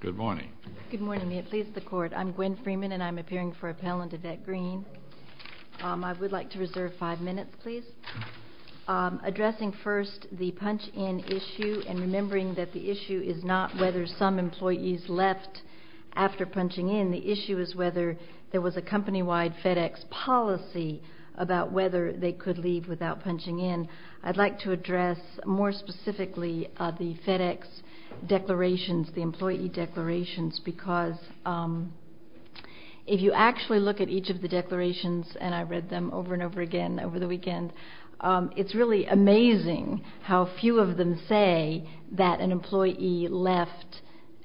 Good morning. Good morning. It pleases the Court. I'm Gwen Freeman, and I'm appearing for appellant Yvette Green. I would like to reserve five minutes, please. Addressing first the punch-in issue and remembering that the issue is not whether some employees left after punching in. The issue is whether there was a company-wide FedEx policy about whether they could leave without punching in. I'd like to address more specifically the FedEx declarations, the employee declarations, because if you actually look at each of the declarations, and I read them over and over again over the weekend, it's really amazing how few of them say that an employee left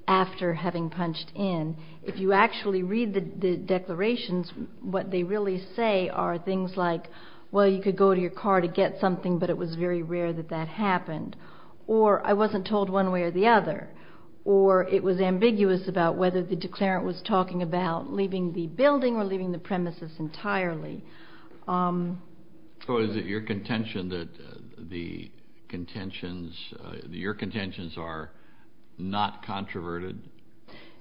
after having punched in. If you actually read the declarations, what they really say are things like, well, you could go to your car to get something, but it was very rare that that happened, or I wasn't told one way or the other, or it was ambiguous about whether the declarant was talking about leaving the building or leaving the premises entirely. So is it your contention that your contentions are not controverted?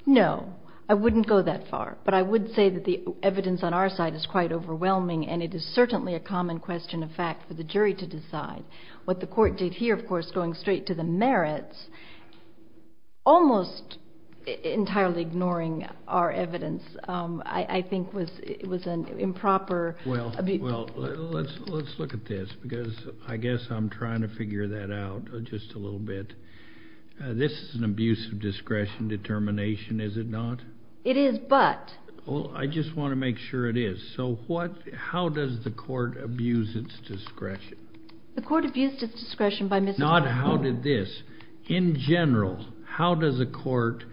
No. I wouldn't go that far. But I would say that the evidence on our side is quite overwhelming, and it is certainly a common question of fact for the jury to decide. What the Court did here, of course, going straight to the merits, almost entirely ignoring our evidence, I think was an improper. Well, let's look at this, because I guess I'm trying to figure that out just a little bit. This is an abuse of discretion determination, is it not? It is, but- Well, I just want to make sure it is. So how does the Court abuse its discretion? The Court abused its discretion by- Not how did this. In general, how does a court,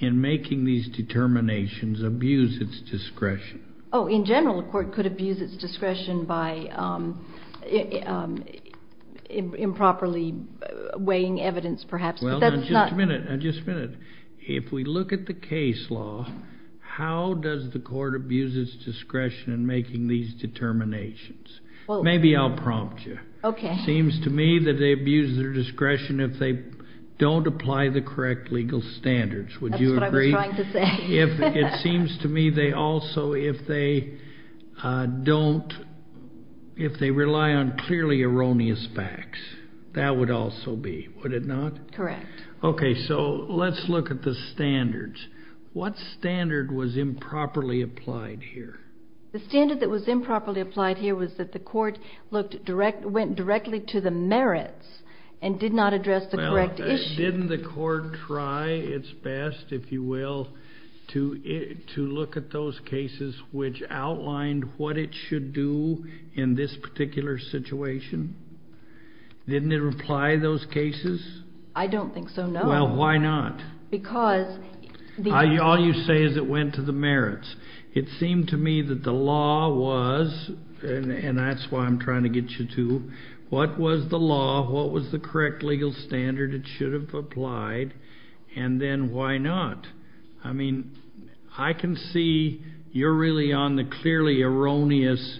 in making these determinations, abuse its discretion? Oh, in general, a court could abuse its discretion by improperly weighing evidence, perhaps, but that's not- If we look at the case law, how does the Court abuse its discretion in making these determinations? Maybe I'll prompt you. Okay. It seems to me that they abuse their discretion if they don't apply the correct legal standards. Would you agree? That's what I was trying to say. It seems to me they also, if they rely on clearly erroneous facts, that would also be, would it not? Correct. Okay, so let's look at the standards. What standard was improperly applied here? The standard that was improperly applied here was that the Court went directly to the merits and did not address the correct issue. Didn't the Court try its best, if you will, to look at those cases which outlined what it should do in this particular situation? Didn't it apply those cases? I don't think so, no. Well, why not? Because the- All you say is it went to the merits. It seemed to me that the law was, and that's why I'm trying to get you to, what was the law, what was the correct legal standard it should have applied, and then why not? I mean, I can see you're really on the clearly erroneous,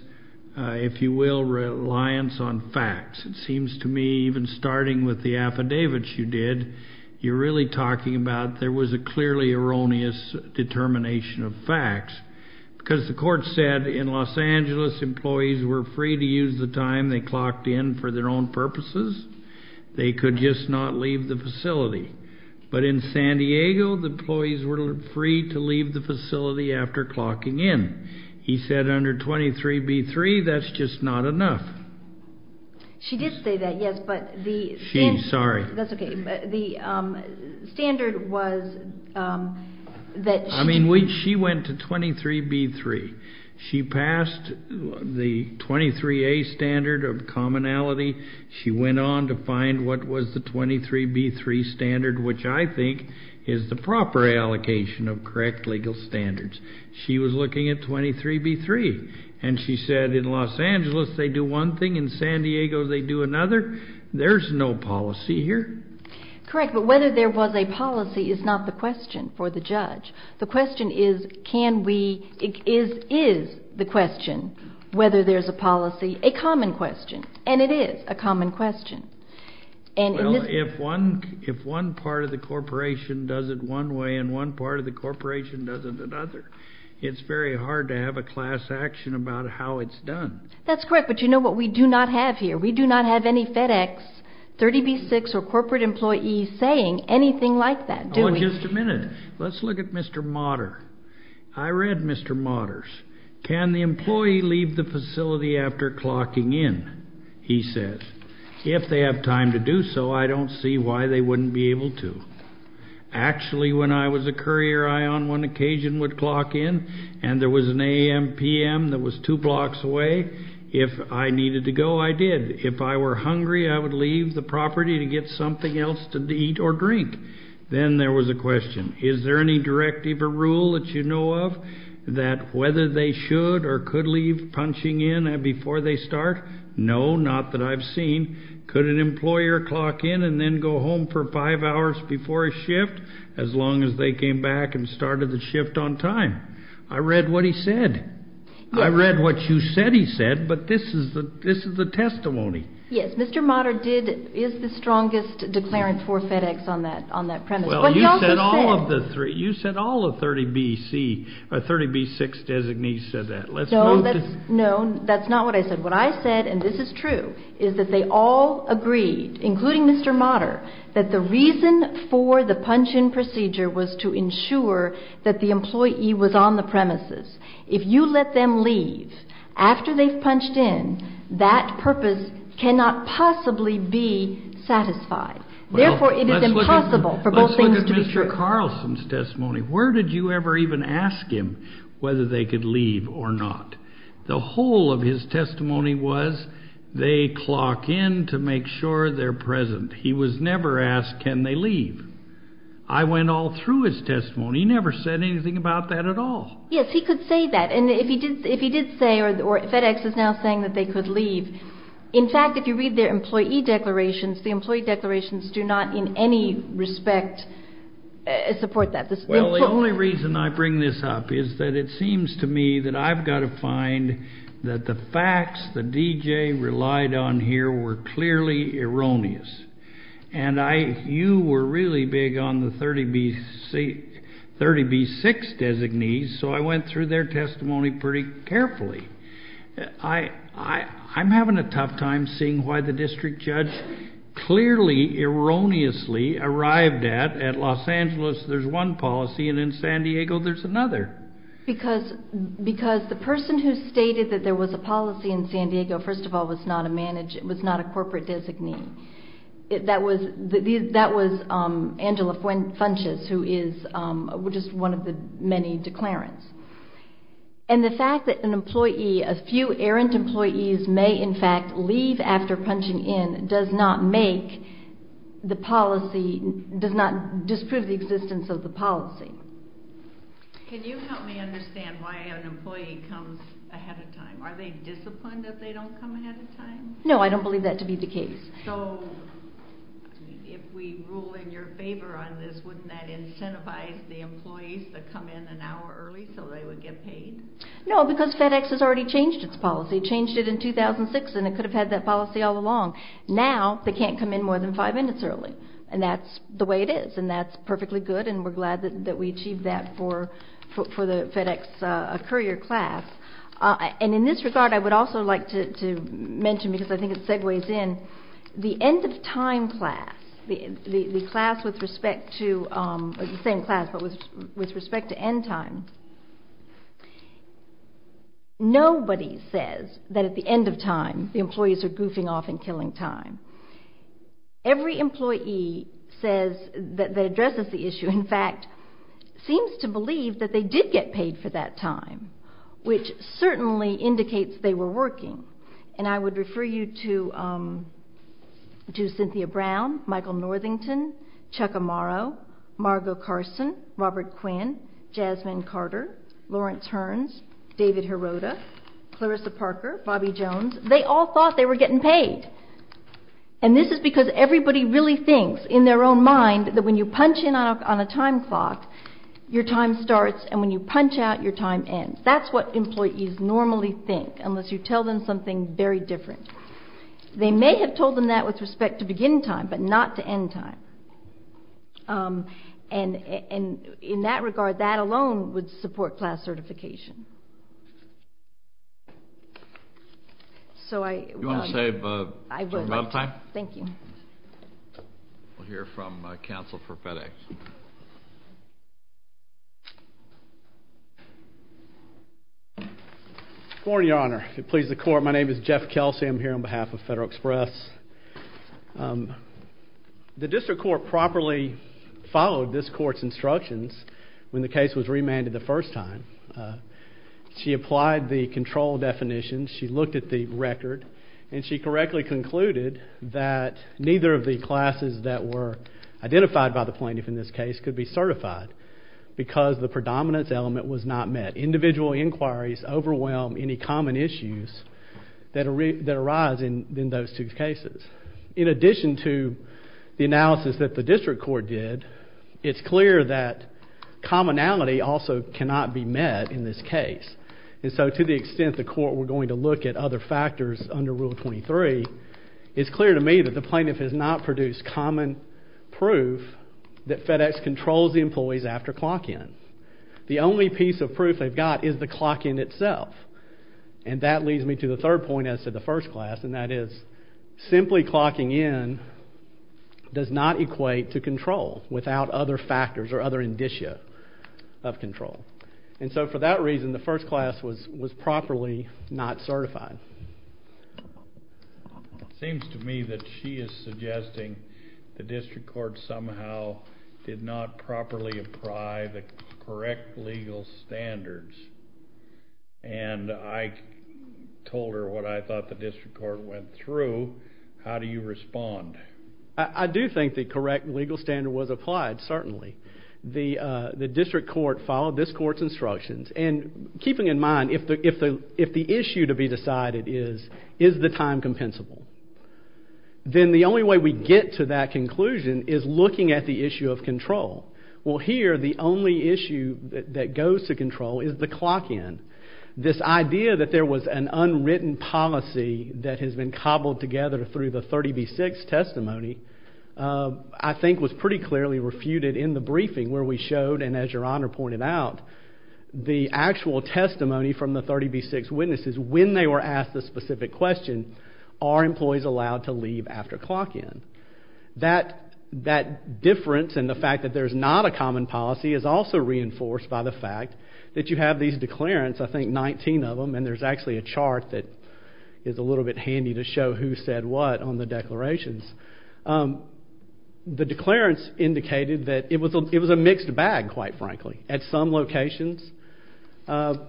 if you will, reliance on facts. It seems to me, even starting with the affidavits you did, you're really talking about there was a clearly erroneous determination of facts. Because the Court said in Los Angeles, employees were free to use the time they clocked in for their own purposes. They could just not leave the facility. But in San Diego, the employees were free to leave the facility after clocking in. He said under 23b-3, that's just not enough. She did say that, yes, but the standard- She, sorry. That's okay. But the standard was that- I mean, she went to 23b-3. She passed the 23a standard of commonality. She went on to find what was the 23b-3 standard, which I think is the proper allocation of correct legal standards. She was looking at 23b-3. And she said in Los Angeles, they do one thing. In San Diego, they do another. There's no policy here. Correct, but whether there was a policy is not the question for the judge. The question is, can we- is the question whether there's a policy a common question? And it is a common question. Well, if one part of the corporation does it one way and one part of the corporation does it another, it's very hard to have a class action about how it's done. That's correct, but you know what we do not have here? We do not have any FedEx, 30b-6, or corporate employees saying anything like that, do we? Oh, just a minute. Let's look at Mr. Motter. I read Mr. Motter's. Can the employee leave the facility after clocking in, he said. If they have time to do so, I don't see why they wouldn't be able to. Actually, when I was a courier, I on one occasion would clock in, and there was an a.m. p.m. that was two blocks away. If I needed to go, I did. If I were hungry, I would leave the property to get something else to eat or drink. Then there was a question. Is there any directive or rule that you know of that whether they should or could leave punching in before they start? No, not that I've seen. Could an employer clock in and then go home for five hours before a shift as long as they came back and started the shift on time? I read what he said. I read what you said he said, but this is the testimony. Yes, Mr. Motter is the strongest declarant for FedEx on that premise. Well, you said all of the 30b-6 designees said that. No, that's not what I said. What I said, and this is true, is that they all agreed, including Mr. Motter, that the reason for the punch-in procedure was to ensure that the employee was on the premises. If you let them leave after they've punched in, that purpose cannot possibly be satisfied. Therefore, it is impossible for both things to be true. Let's look at Mr. Carlson's testimony. Where did you ever even ask him whether they could leave or not? The whole of his testimony was, they clock in to make sure they're present. He was never asked, can they leave? I went all through his testimony. He never said anything about that at all. Yes, he could say that. And if he did say, or FedEx is now saying that they could leave, in fact, if you read their employee declarations, the employee declarations do not in any respect support that. Well, the only reason I bring this up is that it seems to me that I've got to find that the facts that D.J. relied on here were clearly erroneous. And you were really big on the 30B6 designees, so I went through their testimony pretty carefully. I'm having a tough time seeing why the district judge clearly erroneously arrived at, at Los Angeles there's one policy and in San Diego there's another. Because the person who stated that there was a policy in San Diego, first of all, was not a corporate designee. That was Angela Funches, who is just one of the many declarants. And the fact that an employee, a few errant employees, may in fact leave after punching in does not make the policy, does not disprove the existence of the policy. Can you help me understand why an employee comes ahead of time? Are they disciplined that they don't come ahead of time? No, I don't believe that to be the case. So, if we rule in your favor on this, wouldn't that incentivize the employees to come in an hour early so they would get paid? No, because FedEx has already changed its policy. It changed it in 2006 and it could have had that policy all along. Now, they can't come in more than five minutes early. And that's the way it is. And that's perfectly good and we're glad that we achieved that for the FedEx courier class. And in this regard, I would also like to mention, because I think it segues in, the end of time class, the class with respect to, the same class, but with respect to end time. Nobody says that at the end of time, the employees are goofing off and killing time. Every employee that addresses the issue, in fact, seems to believe that they did get paid for that time. Which certainly indicates they were working. And I would refer you to Cynthia Brown, Michael Northington, Chuck Amaro, Margo Carson, Robert Quinn, Jasmine Carter, Lawrence Hearns, David Hirota, Clarissa Parker, Bobby Jones. They all thought they were getting paid. And this is because everybody really thinks, in their own mind, that when you punch in on a time clock, your time starts. And when you punch out, your time ends. That's what employees normally think, unless you tell them something very different. They may have told them that with respect to begin time, but not to end time. And in that regard, that alone would support class certification. You want to save a lot of time? I would like to. Thank you. We'll hear from counsel for FedEx. Good morning, Your Honor. If it pleases the Court, my name is Jeff Kelsey. I'm here on behalf of Federal Express. The district court properly followed this court's instructions when the case was remanded the first time. She applied the control definitions. She looked at the record. And she correctly concluded that neither of the classes that were identified by the plaintiff in this case could be certified, because the predominance element was not met. Individual inquiries overwhelm any common issues that arise in those two cases. In addition to the analysis that the district court did, it's clear that commonality also cannot be met in this case. And so to the extent the court were going to look at other factors under Rule 23, it's clear to me that the plaintiff has not produced common proof that FedEx controls the employees after clock-in. The only piece of proof they've got is the clock-in itself. And that leads me to the third point as to the first class, and that is simply clocking in does not equate to control without other factors or other indicia of control. And so for that reason, the first class was properly not certified. It seems to me that she is suggesting the district court somehow did not properly apply the correct legal standards. And I told her what I thought the district court went through. How do you respond? I do think the correct legal standard was applied, certainly. The district court followed this court's instructions. And keeping in mind, if the issue to be decided is, is the time compensable, then the only way we get to that conclusion is looking at the issue of control. Well, here, the only issue that goes to control is the clock-in. This idea that there was an unwritten policy that has been cobbled together through the 30B6 testimony, I think was pretty clearly refuted in the briefing where we showed, and as Your Honor pointed out, the actual testimony from the 30B6 witnesses when they were asked the specific question, are employees allowed to leave after clock-in? That difference in the fact that there's not a common policy is also reinforced by the fact that you have these declarants, I think 19 of them, and there's actually a chart that is a little bit handy to show who said what on the declarations. The declarants indicated that it was a mixed bag, quite frankly. At some locations,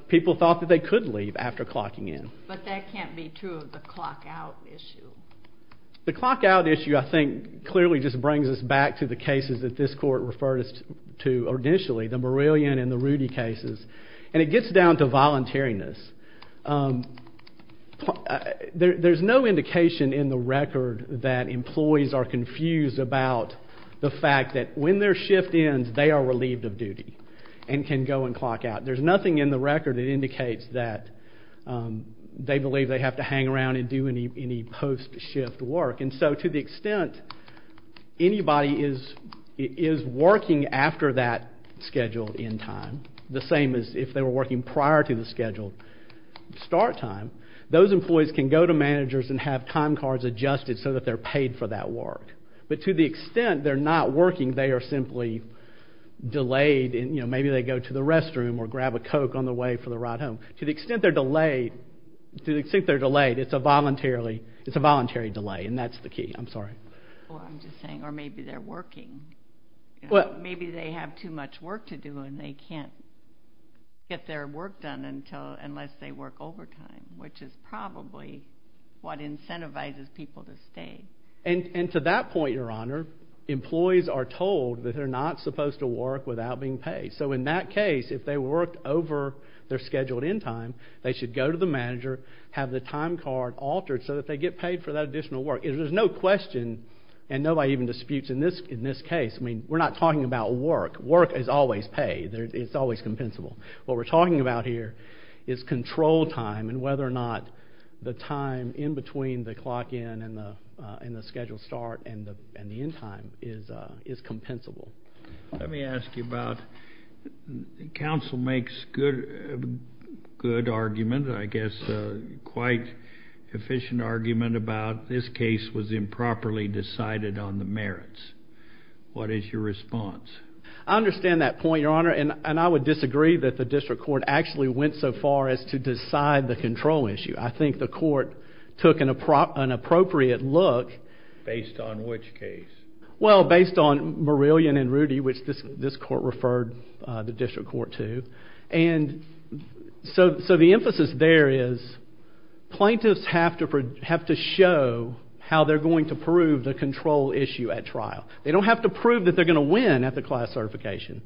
people thought that they could leave after clocking in. But that can't be true of the clock-out issue. The clock-out issue, I think, clearly just brings us back to the cases that this court referred us to initially, the Murillian and the Rudy cases, and it gets down to voluntariness. There's no indication in the record that employees are confused about the fact that when their shift ends, they are relieved of duty and can go and clock out. There's nothing in the record that indicates that they believe they have to hang around and do any post-shift work. And so to the extent anybody is working after that scheduled end time, the same as if they were working prior to the scheduled start time, those employees can go to managers and have time cards adjusted so that they're paid for that work. But to the extent they're not working, they are simply delayed. Maybe they go to the restroom or grab a Coke on the way for the ride home. To the extent they're delayed, it's a voluntary delay, and that's the key. I'm sorry. Well, I'm just saying, or maybe they're working. Maybe they have too much work to do and they can't get their work done unless they work overtime, which is probably what incentivizes people to stay. And to that point, Your Honor, employees are told that they're not supposed to work without being paid. So in that case, if they worked over their scheduled end time, they should go to the manager, have the time card altered so that they get paid for that additional work. There's no question, and nobody even disputes in this case. I mean, we're not talking about work. Work is always paid. It's always compensable. What we're talking about here is control time and whether or not the time in between the clock in and the scheduled start and the end time is compensable. Let me ask you about counsel makes good argument, I guess quite efficient argument, about this case was improperly decided on the merits. What is your response? I understand that point, Your Honor, and I would disagree that the district court actually went so far as to decide the control issue. I think the court took an appropriate look. Based on which case? Well, based on Marillion and Rudy, which this court referred the district court to. And so the emphasis there is plaintiffs have to show how they're going to prove the control issue at trial. They don't have to prove that they're going to win at the class certification,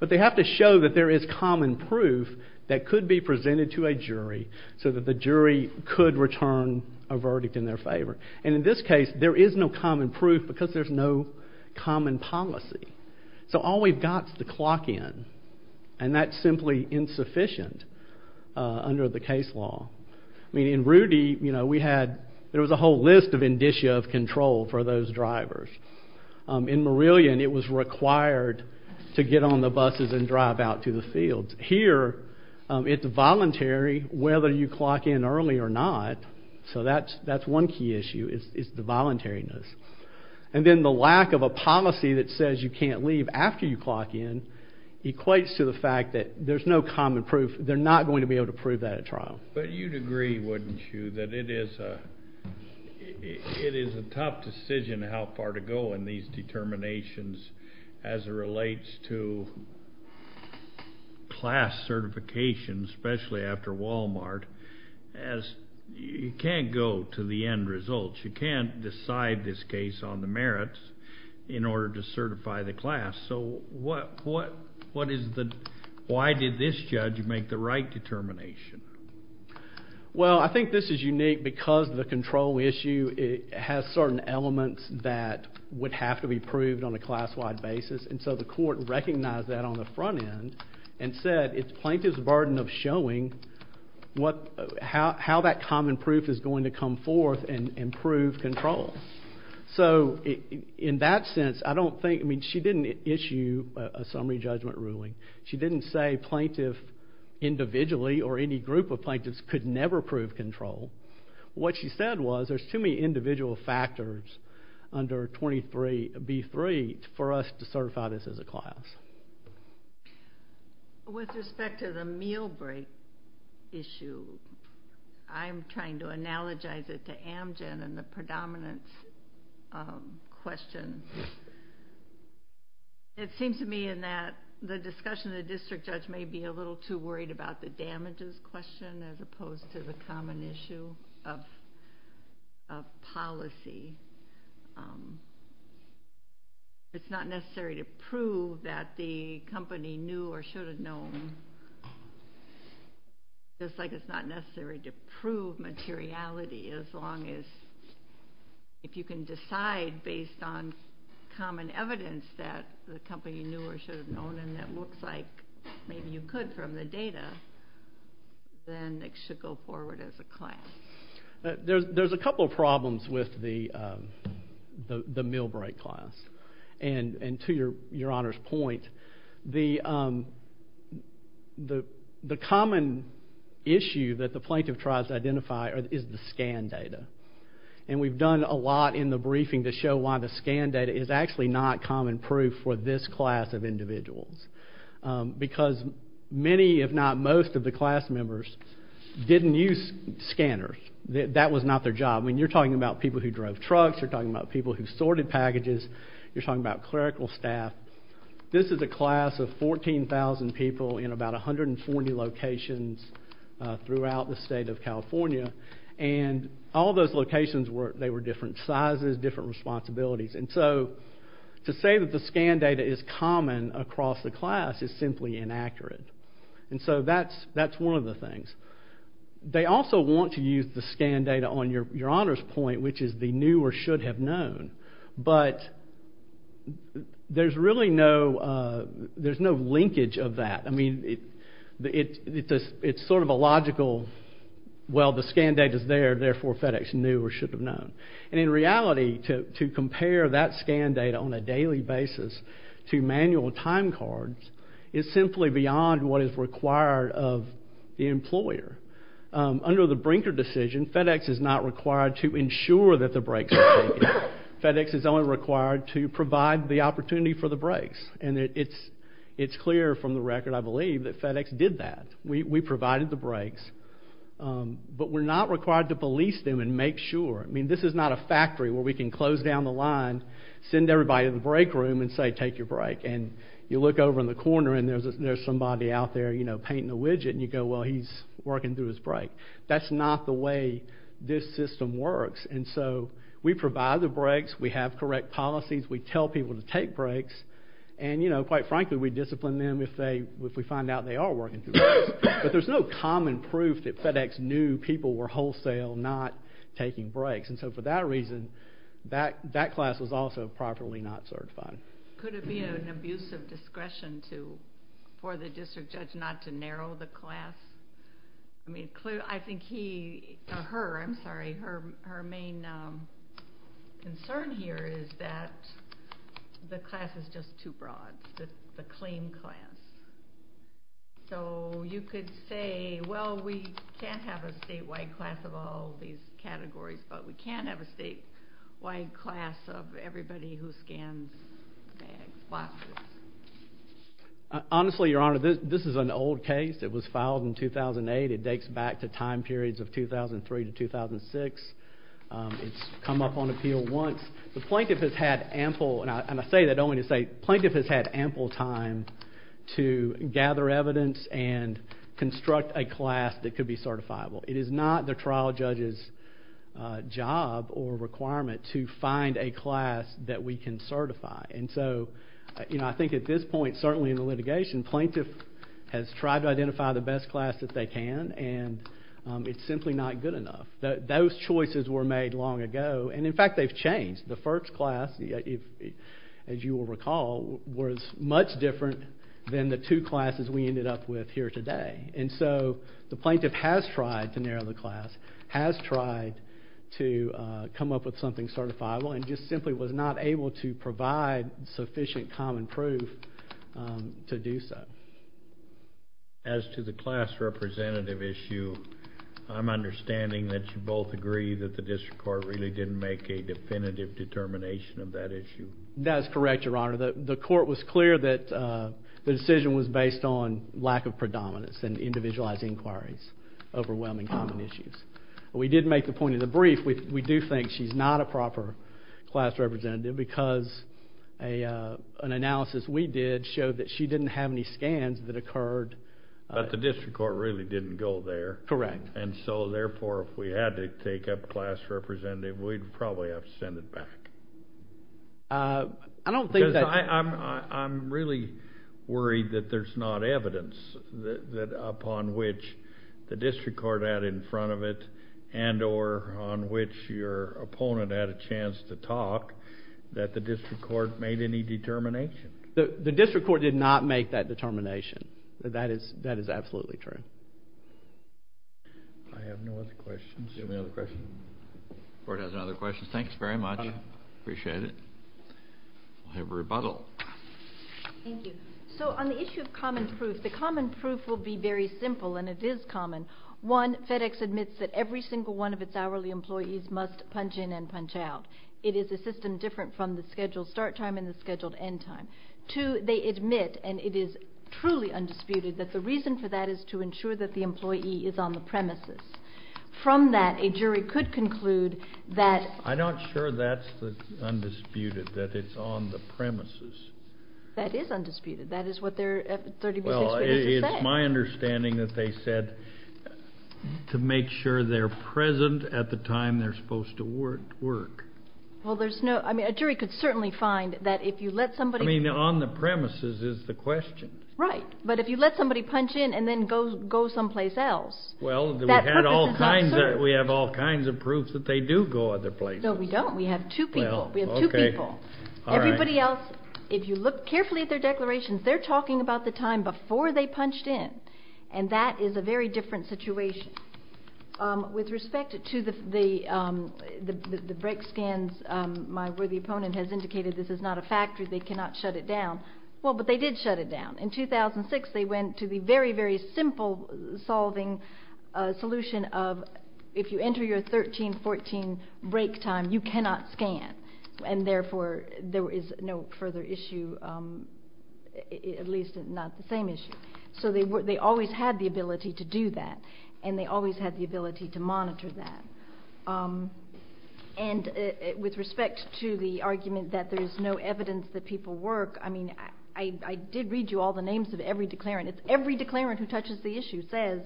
but they have to show that there is common proof that could be presented to a jury so that the jury could return a verdict in their favor. And in this case, there is no common proof because there's no common policy. So all we've got is the clock in, and that's simply insufficient under the case law. I mean, in Rudy, you know, we had, there was a whole list of indicia of control for those drivers. In Marillion, it was required to get on the buses and drive out to the fields. Here, it's voluntary whether you clock in early or not. So that's one key issue is the voluntariness. And then the lack of a policy that says you can't leave after you clock in equates to the fact that there's no common proof. They're not going to be able to prove that at trial. But you'd agree, wouldn't you, that it is a tough decision how far to go in these determinations as it relates to class certification, especially after Walmart, as you can't go to the end results. You can't decide this case on the merits in order to certify the class. So what is the, why did this judge make the right determination? Well, I think this is unique because the control issue has certain elements that would have to be proved on a class-wide basis. And so the court recognized that on the front end and said it's plaintiff's burden of showing what, how that common proof is going to come forth and prove control. So in that sense, I don't think, I mean, she didn't issue a summary judgment ruling. She didn't say plaintiff individually or any group of plaintiffs could never prove control. What she said was there's too many individual factors under 23B3 for us to certify this as a class. With respect to the meal break issue, I'm trying to analogize it to Amgen and the predominance question. It seems to me in that the discussion of the district judge may be a little too worried about the damages question as opposed to the common issue of policy. It's not necessary to prove that the company knew or should have known, just like it's not necessary to prove materiality as long as, if you can decide based on common evidence that the company knew or should have known and that looks like maybe you could from the data, then it should go forward as a class. There's a couple of problems with the meal break class. And to Your Honor's point, the common issue that the plaintiff tries to identify is the scan data. And we've done a lot in the briefing to show why the scan data is actually not common proof for this class of individuals. Because many, if not most, of the class members didn't use scanners. That was not their job. I mean, you're talking about people who drove trucks. You're talking about people who sorted packages. You're talking about clerical staff. This is a class of 14,000 people in about 140 locations throughout the state of California. And all those locations, they were different sizes, different responsibilities. And so to say that the scan data is common across the class is simply inaccurate. And so that's one of the things. They also want to use the scan data on Your Honor's point, which is the knew or should have known. But there's really no linkage of that. I mean, it's sort of a logical, well, the scan data's there, therefore FedEx knew or should have known. And in reality, to compare that scan data on a daily basis to manual time cards is simply beyond what is required of the employer. Under the Brinker decision, FedEx is not required to ensure that the breaks are taken. FedEx is only required to provide the opportunity for the breaks. And it's clear from the record, I believe, that FedEx did that. We provided the breaks. But we're not required to police them and make sure. I mean, this is not a factory where we can close down the line, send everybody to the break room and say, take your break. And you look over in the corner and there's somebody out there, you know, painting a widget. And you go, well, he's working through his break. That's not the way this system works. And so we provide the breaks. We have correct policies. We tell people to take breaks. And, you know, quite frankly, we discipline them if we find out they are working through breaks. But there's no common proof that FedEx knew people were wholesale not taking breaks. And so for that reason, that class was also properly not certified. Could it be an abuse of discretion for the district judge not to narrow the class? I mean, I think he or her, I'm sorry, her main concern here is that the class is just too broad, the clean class. So you could say, well, we can't have a statewide class of all these categories, but we can have a statewide class of everybody who scans bags, boxes. Honestly, Your Honor, this is an old case. It was filed in 2008. It dates back to time periods of 2003 to 2006. It's come up on appeal once. The plaintiff has had ample, and I say that only to say, the plaintiff has had ample time to gather evidence and construct a class that could be certifiable. It is not the trial judge's job or requirement to find a class that we can certify. And so, you know, I think at this point, certainly in the litigation, the plaintiff has tried to identify the best class that they can, and it's simply not good enough. Those choices were made long ago, and in fact, they've changed. The first class, as you will recall, was much different than the two classes we ended up with here today. And so the plaintiff has tried to narrow the class, has tried to come up with something certifiable, and just simply was not able to provide sufficient common proof to do so. As to the class representative issue, I'm understanding that you both agree that the district court really didn't make a definitive determination of that issue. That is correct, Your Honor. The court was clear that the decision was based on lack of predominance and individualized inquiries, overwhelming common issues. We did make the point in the brief, we do think she's not a proper class representative because an analysis we did showed that she didn't have any scans that occurred. But the district court really didn't go there. Correct. And so, therefore, if we had to take a class representative, we'd probably have to send it back. I don't think that. Because I'm really worried that there's not evidence that upon which the district court had in front of it and or on which your opponent had a chance to talk that the district court made any determination. The district court did not make that determination. That is absolutely true. I have no other questions. Do you have any other questions? The court has no other questions. Thanks very much. Appreciate it. We'll have rebuttal. Thank you. So on the issue of common proof, the common proof will be very simple, and it is common. One, FedEx admits that every single one of its hourly employees must punch in and punch out. It is a system different from the scheduled start time and the scheduled end time. Two, they admit, and it is truly undisputed, that the reason for that is to ensure that the employee is on the premises. From that, a jury could conclude that. I'm not sure that's undisputed, that it's on the premises. That is undisputed. That is what their 30-plus experiences say. It's my understanding that they said to make sure they're present at the time they're supposed to work. Well, there's no ñ I mean, a jury could certainly find that if you let somebody. I mean, on the premises is the question. Right. But if you let somebody punch in and then go someplace else. Well, we have all kinds of proof that they do go other places. No, we don't. We have two people. We have two people. Everybody else, if you look carefully at their declarations, they're talking about the time before they punched in. And that is a very different situation. With respect to the break scans, my worthy opponent has indicated this is not a factory. They cannot shut it down. Well, but they did shut it down. In 2006, they went to the very, very simple solving solution of if you enter your 13, 14 break time, you cannot scan. And therefore, there is no further issue, at least not the same issue. So they always had the ability to do that, and they always had the ability to monitor that. And with respect to the argument that there's no evidence that people work, I mean, I did read you all the names of every declarant. Every declarant who touches the issue says,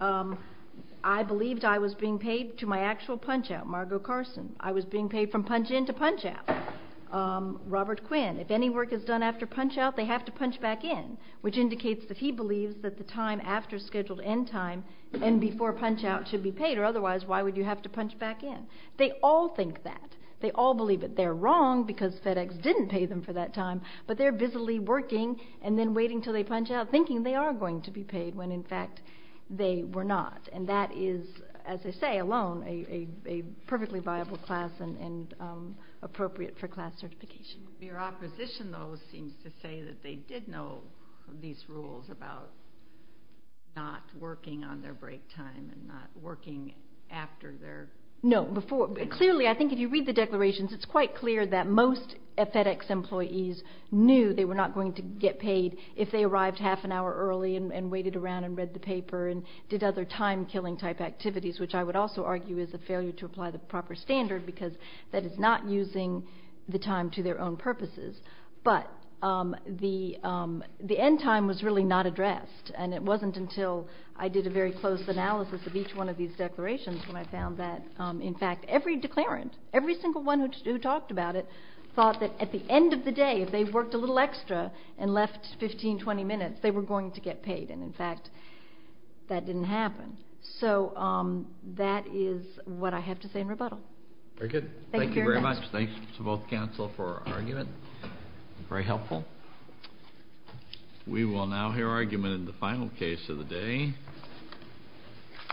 I believed I was being paid to my actual punch out, Margo Carson. I was being paid from punch in to punch out. Robert Quinn, if any work is done after punch out, they have to punch back in, which indicates that he believes that the time after scheduled end time and before punch out should be paid, or otherwise, why would you have to punch back in? They all think that. They all believe that they're wrong because FedEx didn't pay them for that time, but they're busily working and then waiting until they punch out thinking they are going to be paid when, in fact, they were not. And that is, as I say, alone, a perfectly viable class and appropriate for class certification. Your opposition, though, seems to say that they did know these rules about not working on their break time and not working after their. No. Clearly, I think if you read the declarations, it's quite clear that most FedEx employees knew they were not going to get paid if they arrived half an hour early and waited around and read the paper and did other time killing type activities, which I would also argue is a failure to apply the proper standard because that is not using the time to their own purposes. But the end time was really not addressed, and it wasn't until I did a very close analysis of each one of these declarations when I found that, in fact, every declarant, every single one who talked about it, thought that at the end of the day, if they worked a little extra and left 15, 20 minutes, they were going to get paid. And in fact, that didn't happen. So that is what I have to say in rebuttal. Very good. Thank you very much. Thank you very much. Thanks to both counsel for argument. Very helpful. We will now hear argument in the final case of the day.